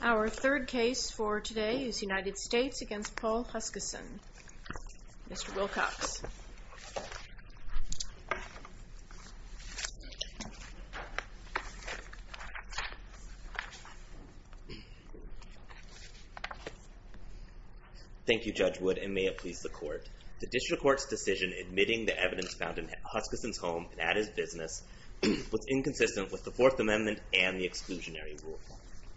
Our third case for today is United States v. Paul Huskisson, Mr. Wilcox. Thank you, Judge Wood, and may it please the Court. The District Court's decision admitting the evidence found in Huskisson's home, that is, business, was inconsistent with the Fourth Amendment and the exclusionary rule.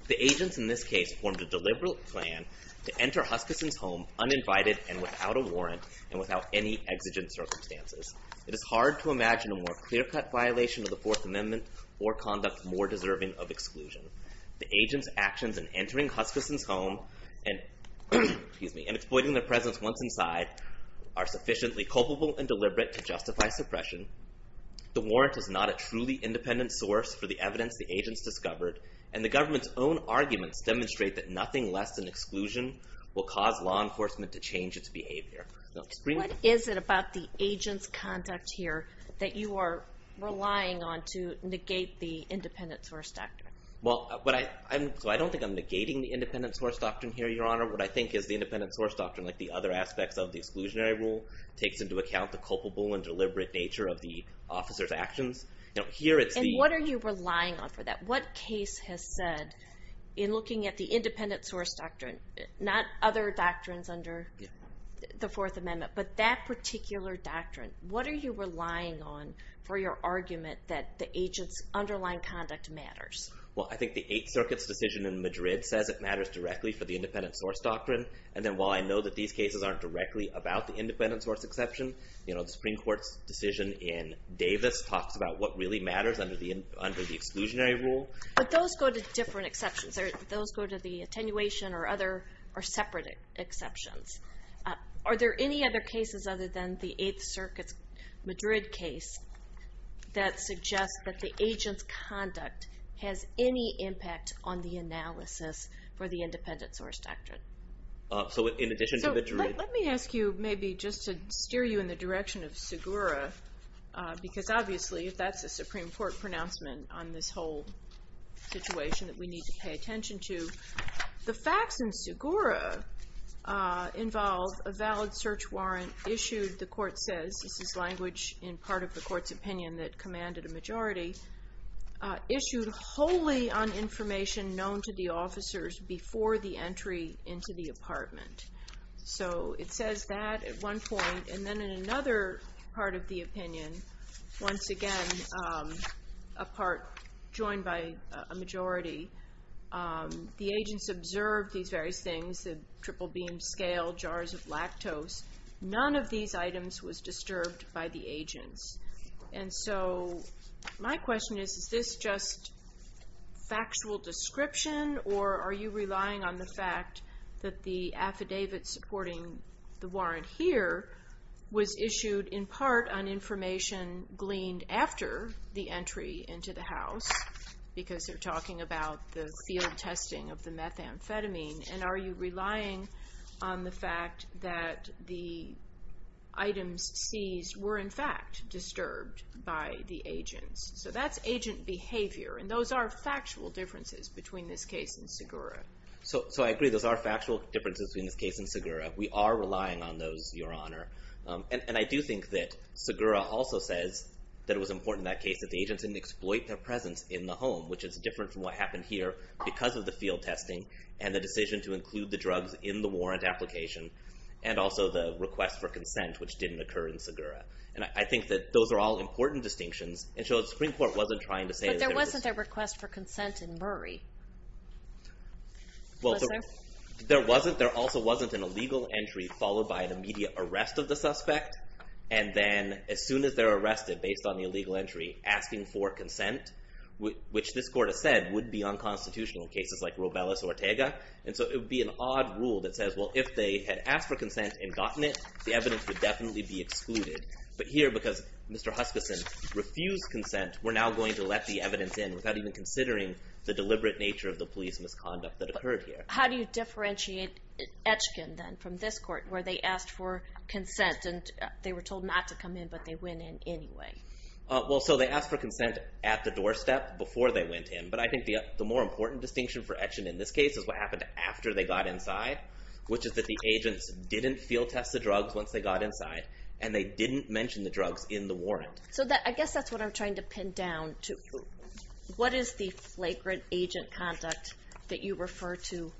The agents in this case formed a deliberate plan to enter Huskisson's home uninvited and without a warrant and without any exigent circumstances. It is hard to imagine a more clear-cut violation of the Fourth Amendment or conduct more deserving of exclusion. The agents' actions in entering Huskisson's home and exploiting their presence once inside are sufficiently culpable and deliberate to justify suppression. The warrant is not a truly independent source for the evidence the agents discovered, and the government's own arguments demonstrate that nothing less than exclusion will cause law enforcement to change its behavior. What is it about the agents' conduct here that you are relying on to negate the independent source doctrine? Well, I don't think I'm negating the independent source doctrine here, Your Honor. What I think is the independent source doctrine, like the other aspects of the exclusionary rule, takes into account the culpable and deliberate nature of the officers' actions. And what are you relying on for that? What case has said, in looking at the independent source doctrine, not other doctrines under the Fourth Amendment, but that particular doctrine, what are you relying on for your argument that the agents' underlying conduct matters? Well, I think the Eighth Circuit's decision in Madrid says it matters directly for the independent source doctrine. And then while I know that these cases aren't directly about the independent source exception, the Supreme Court's decision in Davis talks about what really matters under the exclusionary rule. But those go to different exceptions. Those go to the attenuation or separate exceptions. Are there any other cases other than the Eighth Circuit's Madrid case that suggest that the agents' conduct has any impact on the analysis for the independent source doctrine? Let me ask you, maybe just to steer you in the direction of Segura, because obviously if that's a Supreme Court pronouncement on this whole situation that we need to pay attention to, the facts in Segura involve a valid search warrant issued, the Court says, this is language in part of the Court's opinion that commanded a majority, issued wholly on information known to the officers before the entry into the apartment. So it says that at one point, and then in another part of the opinion, once again, a part joined by a majority, the agents observed these various things, the triple beam scale, jars of lactose. None of these items was disturbed by the agents. And so my question is, is this just factual description, or are you relying on the fact that the affidavit supporting the warrant here was issued in part on information gleaned after the entry into the house, because they're talking about the field testing of the methamphetamine, and are you relying on the fact that the items seized were in fact disturbed by the agents? So that's agent behavior, and those are factual differences between this case and Segura. So I agree, those are factual differences between this case and Segura. We are relying on those, Your Honor. And I do think that Segura also says that it was important in that case that the agents didn't exploit their presence in the home, which is different from what happened here because of the field testing and the decision to include the drugs in the warrant application, and also the request for consent, which didn't occur in Segura. And I think that those are all important distinctions, and so the Supreme Court wasn't trying to say that there was— But there wasn't a request for consent in Murray. Was there? There also wasn't an illegal entry followed by an immediate arrest of the suspect, and then as soon as they're arrested, based on the illegal entry, asking for consent, which this Court has said would be unconstitutional in cases like Robeles or Ortega, and so it would be an odd rule that says, well, if they had asked for consent and gotten it, the evidence would definitely be excluded. But here, because Mr. Huskisson refused consent, we're now going to let the evidence in without even considering the deliberate nature of the police misconduct that occurred here. How do you differentiate Etchkin, then, from this Court, where they asked for consent and they were told not to come in, but they went in anyway? Well, so they asked for consent at the doorstep before they went in, but I think the more important distinction for Etchkin in this case is what happened after they got inside, which is that the agents didn't field test the drugs once they got inside, and they didn't mention the drugs in the warrant. So I guess that's what I'm trying to pin down to. What is the flagrant agent conduct that you refer to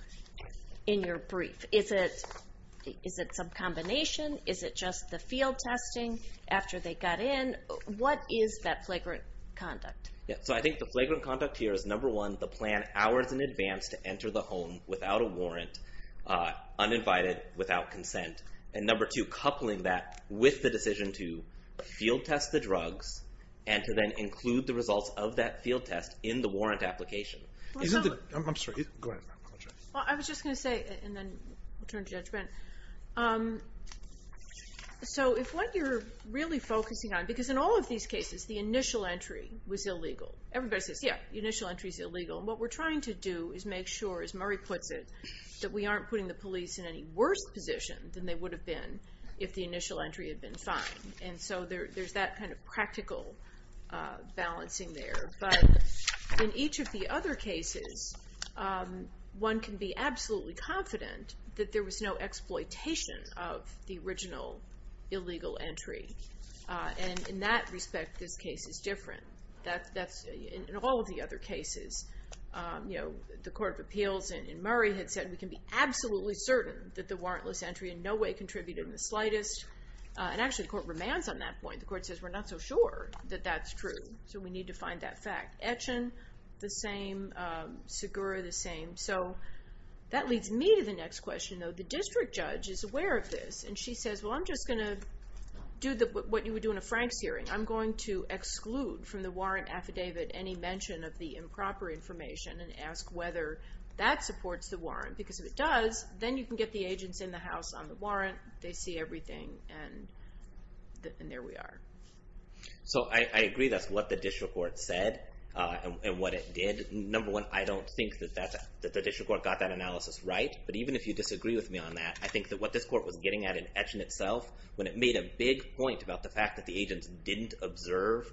in your brief? Is it some combination? Is it just the field testing after they got in? What is that flagrant conduct? I think the flagrant conduct here is, number one, the plan hours in advance to enter the home without a warrant, uninvited, without consent, and number two, coupling that with the decision to field test the drugs and to then include the results of that field test in the warrant application. I'm sorry. Go ahead. I was just going to say, and then we'll turn to judgment. So if what you're really focusing on, because in all of these cases, the initial entry was illegal. Everybody says, yeah, the initial entry is illegal. And what we're trying to do is make sure, as Murray puts it, that we aren't putting the police in any worse position than they would have been if the initial entry had been fine. And so there's that kind of practical balancing there. But in each of the other cases, one can be absolutely confident that there was no exploitation of the original illegal entry. And in that respect, this case is different. That's in all of the other cases. You know, the Court of Appeals in Murray had said, we can be absolutely certain that the warrantless entry in no way contributed in the slightest. And actually, the court remands on that point. The court says, we're not so sure that that's true. So we need to find that fact. Etchen, the same. Segura, the same. So that leads me to the next question, though. The district judge is aware of this. And she says, well, I'm just going to do what you would do in a Franks hearing. I'm going to exclude from the warrant affidavit any mention of the improper information and ask whether that supports the warrant. Because if it does, then you can get the agents in the house on the warrant. They see everything, and there we are. So I agree that's what the district court said and what it did. Number one, I don't think that the district court got that analysis right. But even if you disagree with me on that, I think that what this court was getting at in Etchen itself, when it made a big point about the fact that the agents didn't observe,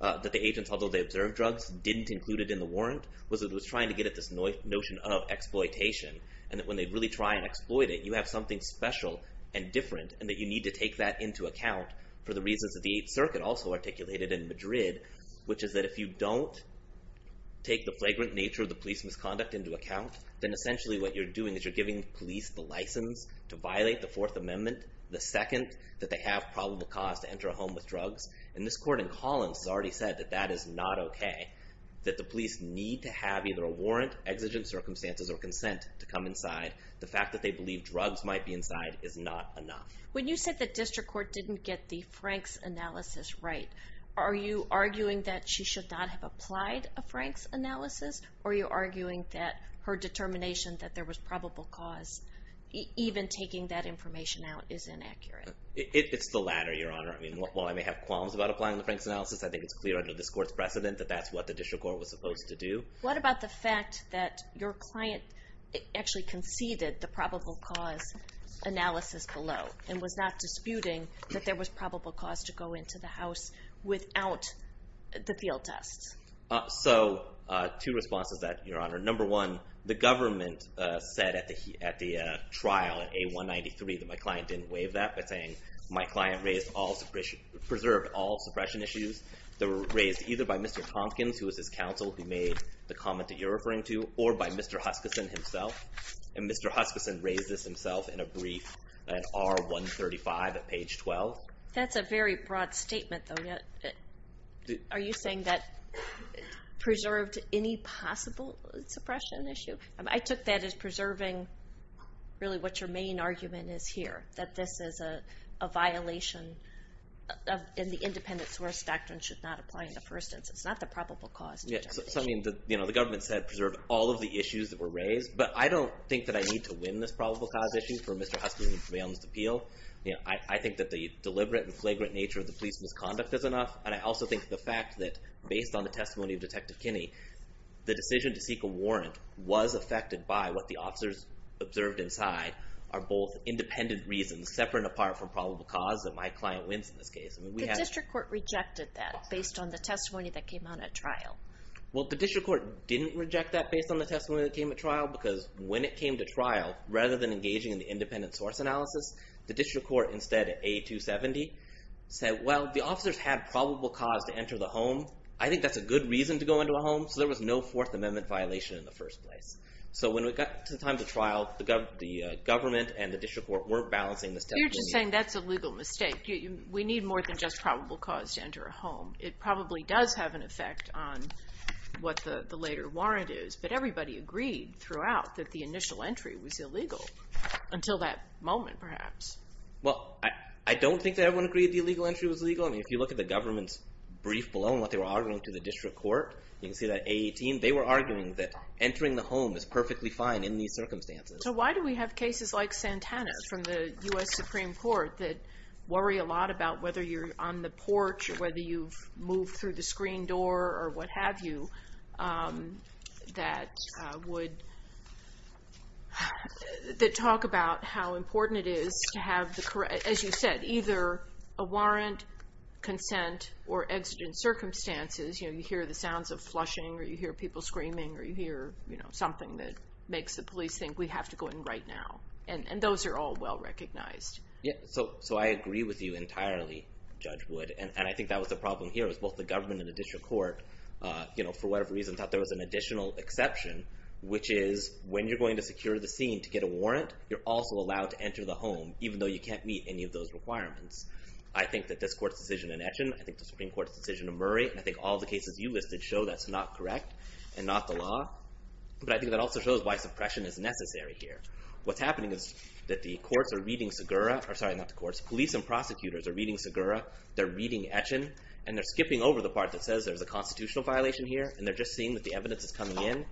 that the agents, although they observed drugs, didn't include it in the warrant, was that it was trying to get at this notion of exploitation. And that when they really try and exploit it, you have something special and different, and that you need to take that into account for the reasons that the Eighth Circuit also articulated in Madrid, which is that if you don't take the flagrant nature of the police misconduct into account, then essentially what you're doing is you're giving the police the license to violate the Fourth Amendment, the second that they have probable cause to enter a home with drugs. And this court in Collins has already said that that is not OK, that the police need to have either a warrant, exigent circumstances, or consent to come inside. The fact that they believe drugs might be inside is not enough. When you said that district court didn't get the Franks analysis right, are you arguing that she should not have applied a Franks analysis, or are you arguing that her determination that there was probable cause, even taking that information out, is inaccurate? It's the latter, Your Honor. I mean, while I may have qualms about applying the Franks analysis, I think it's clear under this court's precedent that that's what the district court was supposed to do. What about the fact that your client actually conceded the probable cause analysis below and was not disputing that there was probable cause to go into the house without the field tests? So two responses to that, Your Honor. Number one, the government said at the trial, at A193, that my client didn't waive that by saying my client preserved all suppression issues that were raised either by Mr. Tompkins, who was his counsel who made the comment that you're referring to, or by Mr. Huskison himself. And Mr. Huskison raised this himself in a brief at R135 at page 12. That's a very broad statement, though. Are you saying that preserved any possible suppression issue? I took that as preserving really what your main argument is here, that this is a violation in the independent source doctrine should not apply in the first instance. It's not the probable cause determination. The government said preserve all of the issues that were raised, but I don't think that I need to win this probable cause issue for Mr. Huskison to prevail in this appeal. I think that the deliberate and flagrant nature of the police misconduct is enough, and I also think the fact that based on the testimony of Detective Kinney, the decision to seek a warrant was affected by what the officers observed inside are both independent reasons separate and apart from probable cause that my client wins in this case. The district court rejected that based on the testimony that came out at trial. Well, the district court didn't reject that based on the testimony that came at trial because when it came to trial, rather than engaging in the independent source analysis, the district court instead at A270 said, well, the officers had probable cause to enter the home. I think that's a good reason to go into a home, so there was no Fourth Amendment violation in the first place. So when it got to the time of the trial, the government and the district court weren't balancing this testimony. But you're just saying that's a legal mistake. We need more than just probable cause to enter a home. It probably does have an effect on what the later warrant is, but everybody agreed throughout that the initial entry was illegal until that moment, perhaps. Well, I don't think that everyone agreed the illegal entry was legal. I mean, if you look at the government's brief below and what they were arguing to the district court, you can see that A18, they were arguing that entering the home is perfectly fine in these circumstances. So why do we have cases like Santana from the U.S. Supreme Court that worry a lot about whether you're on the porch or whether you've moved through the screen door or what have you that talk about how important it is to have, as you said, either a warrant, consent, or exigent circumstances. You hear the sounds of flushing or you hear people screaming or you hear something that makes the police think we have to go in right now. And those are all well recognized. So I agree with you entirely, Judge Wood. And I think that was the problem here was both the government and the district court, for whatever reason, thought there was an additional exception, which is when you're going to secure the scene to get a warrant, you're also allowed to enter the home even though you can't meet any of those requirements. I think that this court's decision in Etchen, I think the Supreme Court's decision in Murray, and I think all the cases you listed show that's not correct and not the law. But I think that also shows why suppression is necessary here. What's happening is that the courts are reading Segura, or sorry, not the courts, police and prosecutors are reading Segura, they're reading Etchen, and they're skipping over the part that says there's a constitutional violation here and they're just seeing that the evidence is coming in.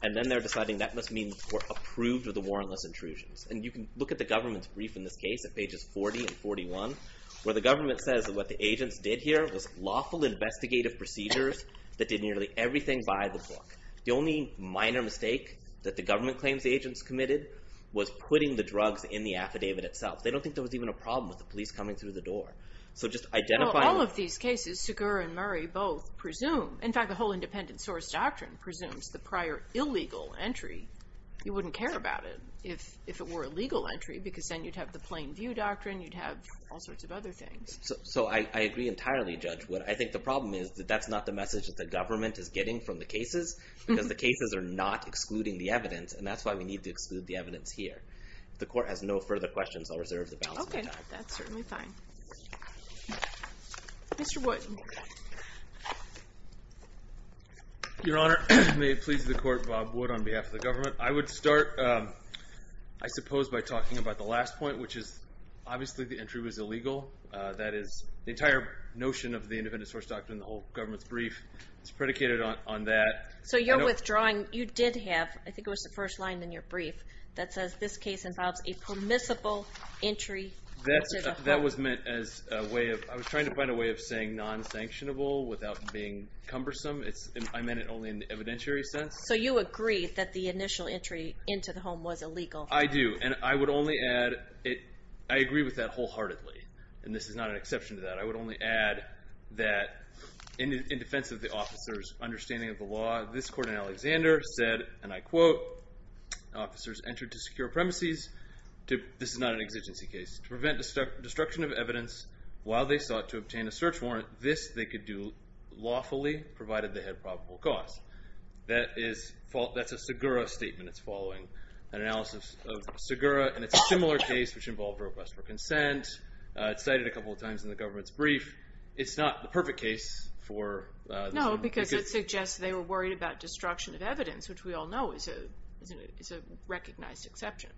And then they're deciding that must mean the court approved of the warrantless intrusions. And you can look at the government's brief in this case at pages 40 and 41 where the government says that what the agents did here was lawful investigative procedures that did nearly everything by the book. The only minor mistake that the government claims the agents committed was putting the drugs in the affidavit itself. They don't think there was even a problem with the police coming through the door. So just identifying... Well, all of these cases, Segura and Murray both presume, in fact the whole independent source doctrine presumes the prior illegal entry. You wouldn't care about it if it were a legal entry because then you'd have the plain view doctrine, you'd have all sorts of other things. So I agree entirely, Judge Wood. I think the problem is that that's not the message that the government is getting from the cases because the cases are not excluding the evidence, and that's why we need to exclude the evidence here. If the court has no further questions, I'll reserve the balance of my time. Okay, that's certainly fine. Mr. Wood. Your Honor, may it please the court, Bob Wood on behalf of the government. I would start, I suppose, by talking about the last point, which is obviously the entry was illegal. That is, the entire notion of the independent source doctrine, the whole government's brief is predicated on that. So you're withdrawing. You did have, I think it was the first line in your brief, that says this case involves a permissible entry into the home. That was meant as a way of... I was trying to find a way of saying non-sanctionable without being cumbersome. I meant it only in the evidentiary sense. So you agree that the initial entry into the home was illegal. I do, and I would only add, I agree with that wholeheartedly, and this is not an exception to that. I would only add that in defense of the officer's understanding of the law, this court in Alexander said, and I quote, officers entered to secure premises, this is not an exigency case, to prevent destruction of evidence while they sought to obtain a search warrant. This they could do lawfully provided they had probable cause. That's a Segura statement it's following, an analysis of Segura, and it's a similar case which involved request for consent. It's cited a couple of times in the government's brief. It's not the perfect case for... No, because it suggests they were worried about destruction of evidence, which we all know is a recognized exception.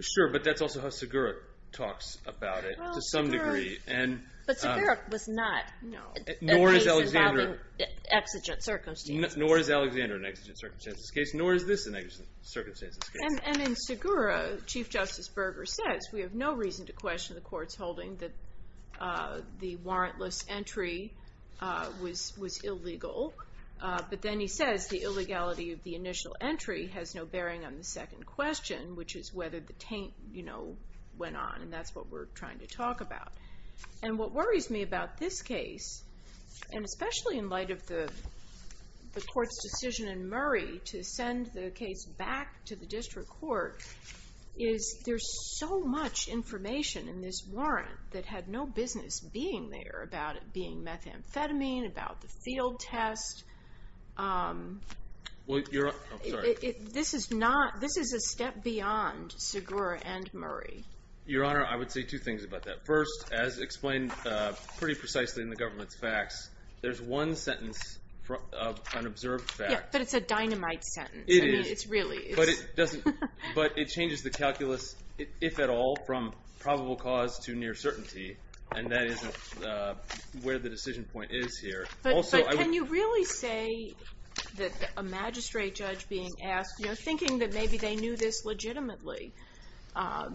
Sure, but that's also how Segura talks about it to some degree. But Segura was not a case involving exigent circumstances. Nor is Alexander an exigent circumstances case, nor is this an exigent circumstances case. And in Segura, Chief Justice Berger says, we have no reason to question the court's holding that the warrantless entry was illegal, but then he says the illegality of the initial entry has no bearing on the second question, which is whether the taint went on, and that's what we're trying to talk about. And what worries me about this case, and especially in light of the court's decision in Murray to send the case back to the district court, is there's so much information in this warrant that had no business being there about it being methamphetamine, about the field test. This is a step beyond Segura and Murray. Your Honor, I would say two things about that. First, as explained pretty precisely in the government's facts, there's one sentence of unobserved fact. Yeah, but it's a dynamite sentence. It is. I mean, it's really. But it changes the calculus, if at all, from probable cause to near certainty, and that is where the decision point is here. But can you really say that a magistrate judge being asked, thinking that maybe they knew this legitimately, are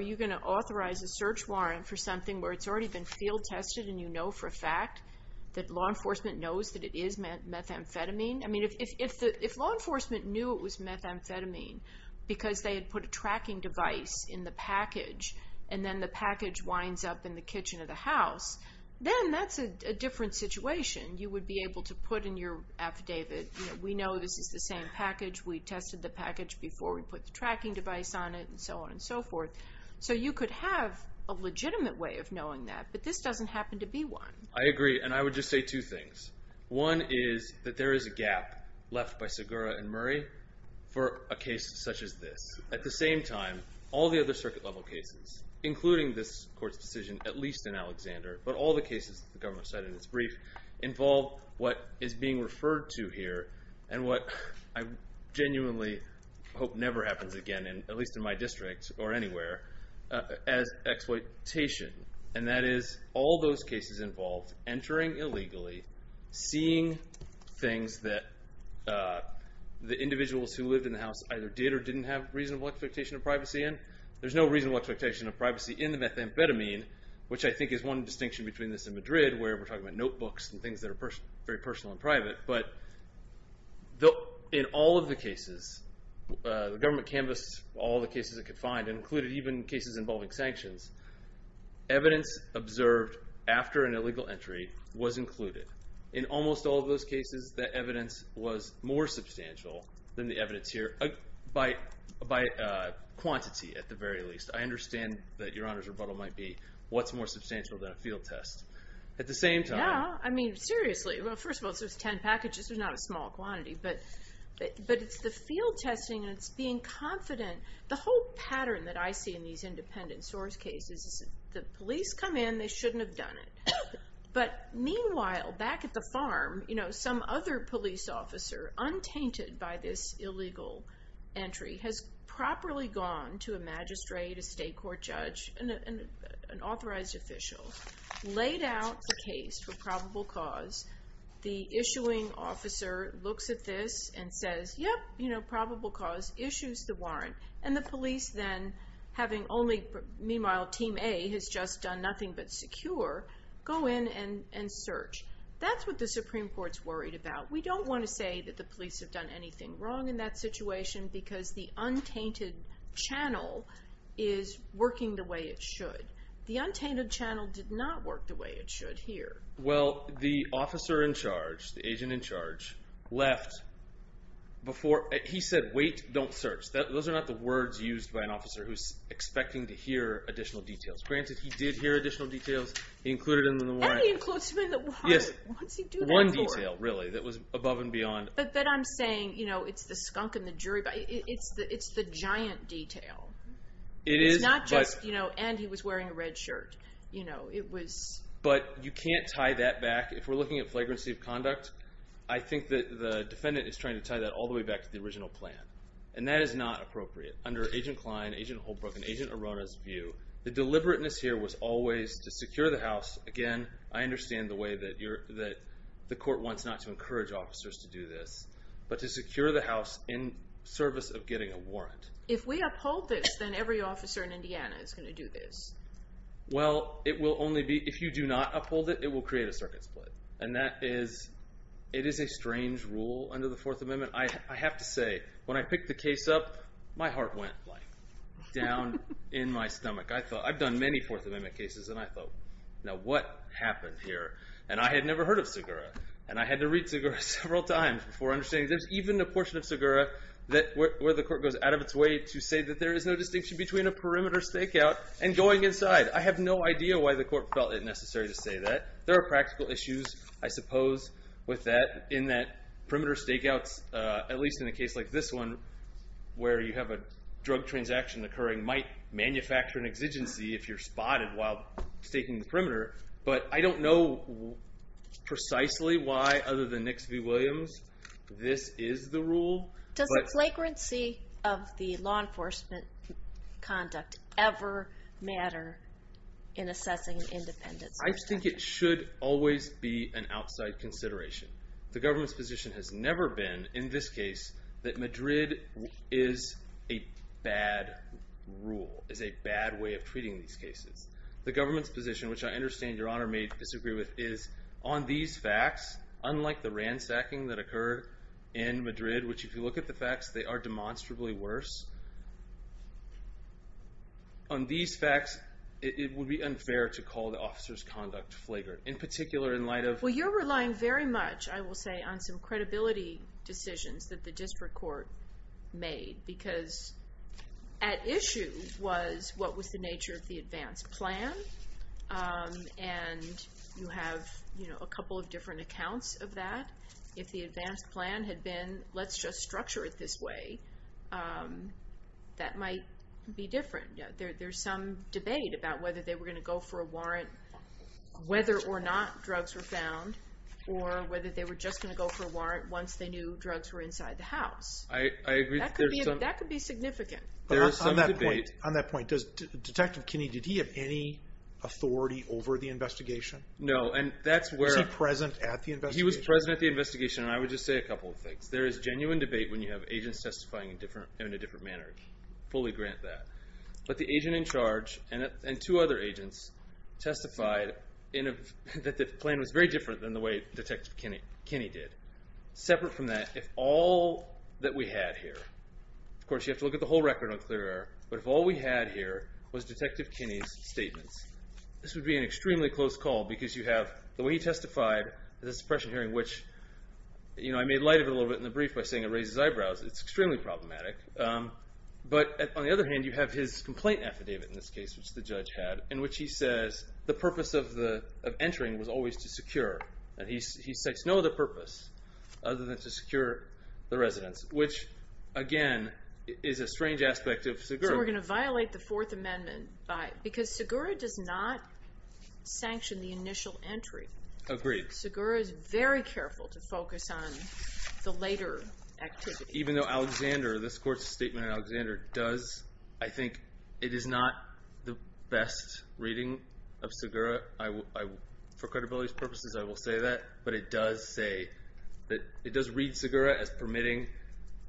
you going to authorize a search warrant for something where it's already been field tested and you know for a fact that law enforcement knows that it is methamphetamine? I mean, if law enforcement knew it was methamphetamine because they had put a tracking device in the package and then the package winds up in the kitchen of the house, then that's a different situation. You would be able to put in your affidavit, we know this is the same package, we tested the package before we put the tracking device on it, and so on and so forth. So you could have a legitimate way of knowing that, but this doesn't happen to be one. I agree, and I would just say two things. One is that there is a gap left by Segura and Murray for a case such as this. At the same time, all the other circuit-level cases, including this Court's decision, at least in Alexander, but all the cases the government cited in its brief, involve what is being referred to here and what I genuinely hope never happens again, at least in my district or anywhere, as exploitation. And that is all those cases involved entering illegally, seeing things that the individuals who lived in the house either did or didn't have reasonable expectation of privacy in. There's no reasonable expectation of privacy in the methamphetamine, which I think is one distinction between this and Madrid, where we're talking about notebooks and things that are very personal and private. But in all of the cases, the government canvassed all the cases it could find and included even cases involving sanctions. Evidence observed after an illegal entry was included. In almost all of those cases, that evidence was more substantial than the evidence here by quantity, at the very least. I understand that Your Honor's rebuttal might be, what's more substantial than a field test? At the same time... Yeah, I mean, seriously. Well, first of all, there's 10 packages. There's not a small quantity. But it's the field testing and it's being confident. The whole pattern that I see in these independent source cases is the police come in, they shouldn't have done it. But meanwhile, back at the farm, some other police officer, untainted by this illegal entry, has properly gone to a magistrate, a state court judge, an authorized official. Laid out the case for probable cause. The issuing officer looks at this and says, yep, probable cause, issues the warrant. And the police then, having only, meanwhile, Team A has just done nothing but secure, go in and search. That's what the Supreme Court's worried about. We don't want to say that the police have done anything wrong in that situation because the untainted channel is working the way it should. The untainted channel did not work the way it should here. Well, the officer in charge, the agent in charge, left before... He said, wait, don't search. Those are not the words used by an officer who's expecting to hear additional details. Granted, he did hear additional details. He included them in the warrant. And he includes them in the warrant. Yes. What does he do that for? One detail, really, that was above and beyond. But then I'm saying, you know, it's the skunk and the jury. It's the giant detail. It's not just, you know, and he was wearing a red shirt. You know, it was... But you can't tie that back. If we're looking at flagrancy of conduct, I think that the defendant is trying to tie that all the way back to the original plan. And that is not appropriate under Agent Klein, Agent Holbrook, and Agent Arona's view. The deliberateness here was always to secure the house. Again, I understand the way that the court wants not to encourage officers to do this. But to secure the house in service of getting a warrant. If we uphold this, then every officer in Indiana is going to do this. Well, it will only be... If you do not uphold it, it will create a circuit split. And that is... It is a strange rule under the Fourth Amendment. I have to say, when I picked the case up, my heart went, like, down in my stomach. I thought... I've done many Fourth Amendment cases, and I thought, now what happened here? And I had never heard of Segura. And I had to read Segura several times before understanding... There's even a portion of Segura where the court goes out of its way to say that there is no distinction between a perimeter stakeout and going inside. I have no idea why the court felt it necessary to say that. There are practical issues, I suppose, with that. In that perimeter stakeouts, at least in a case like this one, where you have a drug transaction occurring, might manufacture an exigency if you're spotted while staking the perimeter. But I don't know precisely why, other than Nix v. Williams, this is the rule. Does the flagrancy of the law enforcement conduct ever matter in assessing an independence or a statute? I think it should always be an outside consideration. The government's position has never been, in this case, that Madrid is a bad rule, is a bad way of treating these cases. The government's position, which I understand Your Honor may disagree with, is on these facts, unlike the ransacking that occurred in Madrid, which if you look at the facts, they are demonstrably worse. On these facts, it would be unfair to call the officer's conduct flagrant, in particular in light of... Well, you're relying very much, I will say, on some credibility decisions that the district court made, because at issue was what was the nature of the advance plan, and you have a couple of different accounts of that. If the advance plan had been, let's just structure it this way, that might be different. There's some debate about whether they were going to go for a warrant whether or not drugs were found, or whether they were just going to go for a warrant once they knew drugs were inside the house. I agree. That could be significant. On that point, Detective Kinney, did he have any authority over the investigation? No, and that's where... Was he present at the investigation? He was present at the investigation, and I would just say a couple of things. There is genuine debate when you have agents testifying in a different manner. Fully grant that. But the agent in charge and two other agents testified that the plan was very different than the way Detective Kinney did. Separate from that, if all that we had here... Of course, you have to look at the whole record on clear air. But if all we had here was Detective Kinney's statements, this would be an extremely close call because you have the way he testified, the suppression hearing, which... I made light of it a little bit in the brief by saying it raises eyebrows. It's extremely problematic. But on the other hand, you have his complaint affidavit in this case, which the judge had, in which he says the purpose of entering was always to secure. He sets no other purpose other than to secure the residence, which, again, is a strange aspect of Segura. So we're going to violate the Fourth Amendment by... Because Segura does not sanction the initial entry. Agreed. Segura is very careful to focus on the later activity. Even though Alexander, this court's statement on Alexander, does... I think it is not the best reading of Segura. For credibility's purposes, I will say that. But it does say that... It does read Segura as permitting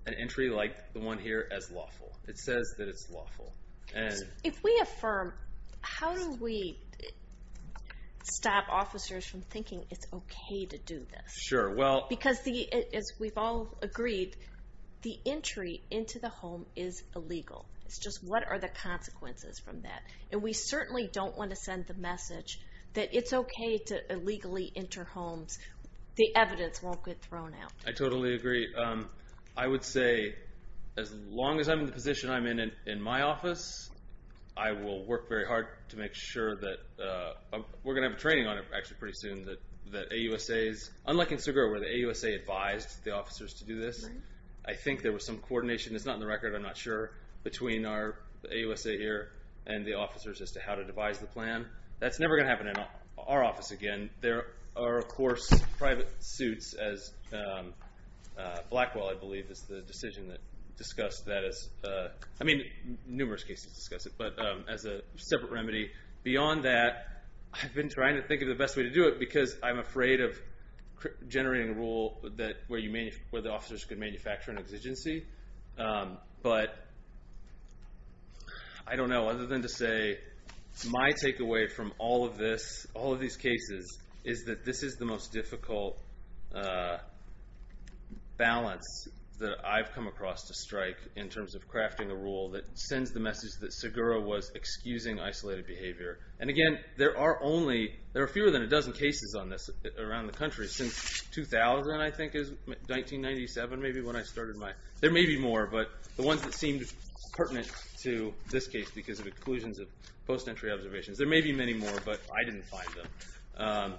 an entry like the one here as lawful. It says that it's lawful. If we affirm, how do we stop officers from thinking it's okay to do this? Sure, well... Because, as we've all agreed, the entry into the home is illegal. It's just what are the consequences from that? And we certainly don't want to send the message that it's okay to illegally enter homes. The evidence won't get thrown out. I totally agree. I would say, as long as I'm in the position I'm in in my office, I will work very hard to make sure that... We're going to have a training on it, actually, pretty soon, that AUSAs... Unlike in Segura, where the AUSA advised the officers to do this, I think there was some coordination. It's not in the record. I'm not sure. Between our AUSA here and the officers as to how to devise the plan. That's never going to happen in our office again. There are, of course, private suits, as Blackwell, I believe, is the decision that discussed that as... I mean, numerous cases discuss it, but as a separate remedy. Beyond that, I've been trying to think of the best way to do it because I'm afraid of generating a rule where the officers could manufacture an exigency. But I don't know. Other than to say my takeaway from all of these cases is that this is the most difficult balance that I've come across to strike in terms of crafting a rule that sends the message that Segura was excusing isolated behavior. Again, there are fewer than a dozen cases on this around the country since 2000, I think, 1997, maybe, when I started my... There may be more, but the ones that seemed pertinent to this case because of inclusions of post-entry observations, there may be many more, but I didn't find them.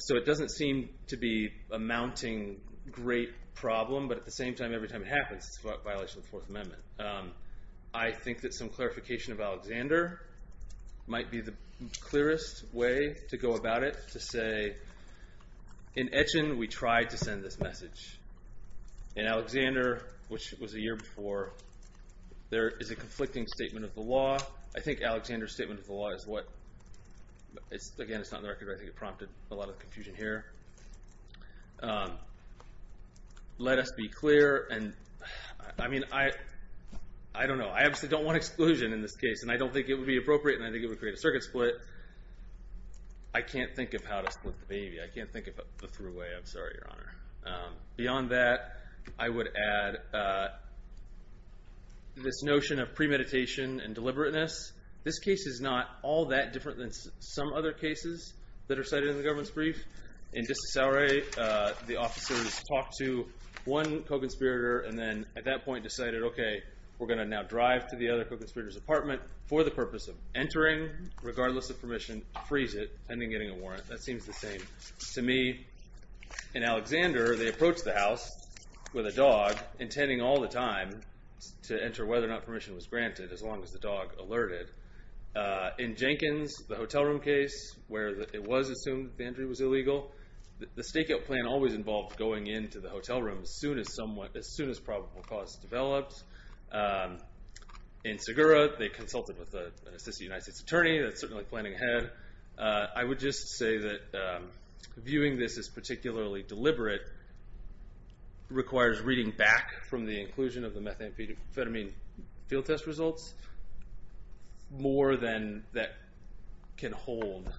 So it doesn't seem to be a mounting great problem, but at the same time, every time it happens, it's a violation of the Fourth Amendment. I think that some clarification of Alexander might be the clearest way to go about it to say, in Etchin, we tried to send this message. In Alexander, which was a year before, there is a conflicting statement of the law. I think Alexander's statement of the law is what... Again, it's not in the record, but I think it prompted a lot of confusion here. Let us be clear, and I mean, I don't know. I obviously don't want exclusion in this case, and I don't think it would be appropriate, and I think it would create a circuit split. I can't think of how to split the baby. I can't think of a through way. I'm sorry, Your Honor. Beyond that, I would add this notion of premeditation and deliberateness. This case is not all that different than some other cases that are cited in the government's brief. In District Salary, the officers talked to one co-conspirator and then at that point decided, okay, we're going to now drive to the other co-conspirator's apartment for the purpose of entering, regardless of permission, to freeze it and then getting a warrant. That seems the same. To me, in Alexander, they approached the house with a dog, intending all the time to enter whether or not permission was granted, as long as the dog alerted. In Jenkins, the hotel room case, where it was assumed the entry was illegal, the stakeout plan always involved going into the hotel room as soon as probable cause developed. In Segura, they consulted with an assistant United States attorney that's certainly planning ahead. I would just say that viewing this as particularly deliberate requires reading back from the inclusion of the methamphetamine field test results more than that can hold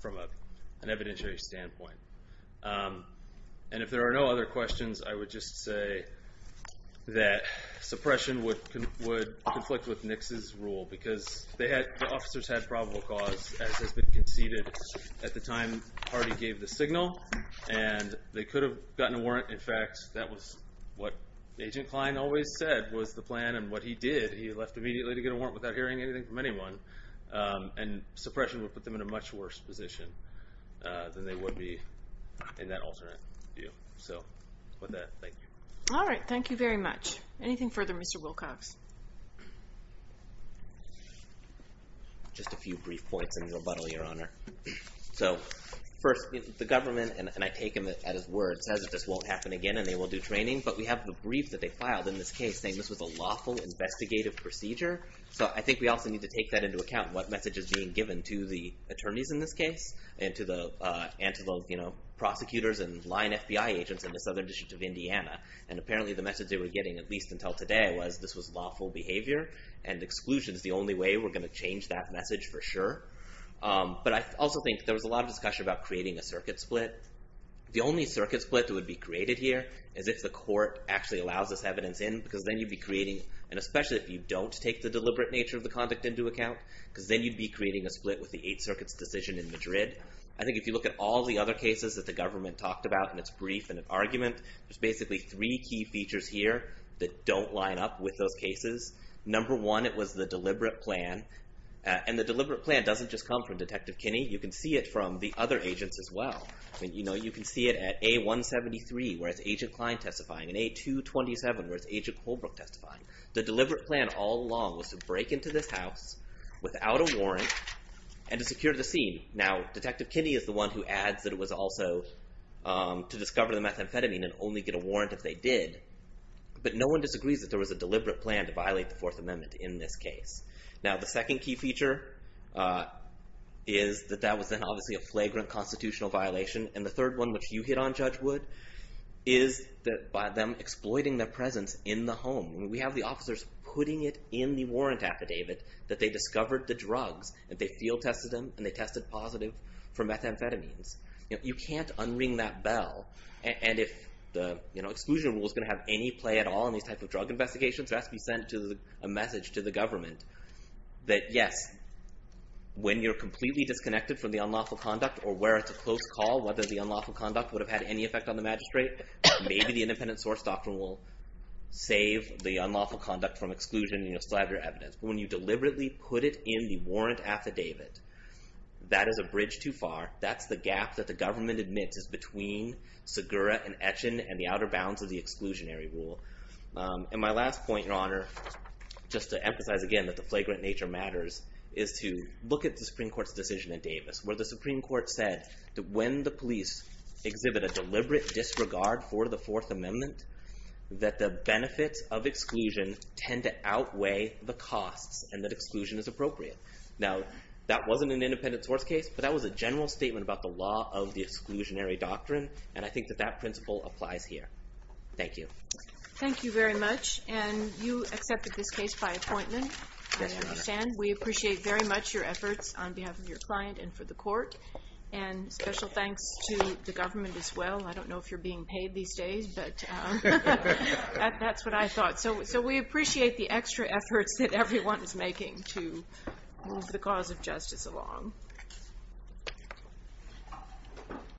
from an evidentiary standpoint. If there are no other questions, I would just say that suppression would conflict with Nix's rule because the officers had probable cause, as has been conceded at the time Hardy gave the signal, and they could have gotten a warrant. In fact, that was what Agent Klein always said was the plan, and what he did, he left immediately to get a warrant without hearing anything from anyone, and suppression would put them in a much worse position than they would be in that alternate view. So with that, thank you. All right, thank you very much. Anything further, Mr. Wilcox? Just a few brief points in rebuttal, Your Honor. First, the government, and I take them at his word, says this won't happen again and they will do training, but we have the brief that they filed in this case saying this was a lawful investigative procedure. So I think we also need to take that into account, what message is being given to the attorneys in this case and to the prosecutors and line FBI agents in the Southern District of Indiana. And apparently the message they were getting, at least until today, was this was lawful behavior, and exclusion is the only way we're going to change that message for sure. But I also think there was a lot of discussion about creating a circuit split. The only circuit split that would be created here is if the court actually allows this evidence in, because then you'd be creating, and especially if you don't take the deliberate nature of the conduct into account, because then you'd be creating a split with the Eighth Circuit's decision in Madrid. I think if you look at all the other cases that the government talked about in its brief and its argument, there's basically three key features here that don't line up with those cases. Number one, it was the deliberate plan. And the deliberate plan doesn't just come from Detective Kinney. You can see it from the other agents as well. You can see it at A173, where it's Agent Klein testifying, and A227, where it's Agent Holbrook testifying. The deliberate plan all along was to break into this house without a warrant and to secure the scene. Now, Detective Kinney is the one who adds that it was also to discover the methamphetamine and only get a warrant if they did. But no one disagrees that there was a deliberate plan to violate the Fourth Amendment in this case. Now, the second key feature is that that was then obviously a flagrant constitutional violation. And the third one, which you hit on, Judge Wood, is that by them exploiting their presence in the home. We have the officers putting it in the warrant affidavit that they discovered the drugs and they field tested them and they tested positive for methamphetamines. You can't unring that bell. And if the exclusion rule is going to have any play at all in these type of drug investigations, it has to be sent to a message to the government that yes, when you're completely disconnected from the unlawful conduct or where it's a close call, whether the unlawful conduct would have had any effect on the magistrate, maybe the independent source doctrine will save the unlawful conduct from exclusion and you'll still have your evidence. But when you deliberately put it in the warrant affidavit, that is a bridge too far. That's the gap that the government admits is between Segura and Etchen and the outer bounds of the exclusionary rule. And my last point, Your Honor, just to emphasize again that the flagrant nature matters, is to look at the Supreme Court's decision in Davis where the Supreme Court said that when the police exhibit a deliberate disregard for the Fourth Amendment, that the benefits of exclusion tend to outweigh the costs and that exclusion is appropriate. Now, that wasn't an independent source case, but that was a general statement about the law of the exclusionary doctrine, and I think that that principle applies here. Thank you. Thank you very much. And you accepted this case by appointment? Yes, Your Honor. I understand. We appreciate very much your efforts on behalf of your client and for the court. And special thanks to the government as well. I don't know if you're being paid these days, but that's what I thought. So we appreciate the extra efforts that everyone is making to move the cause of justice along.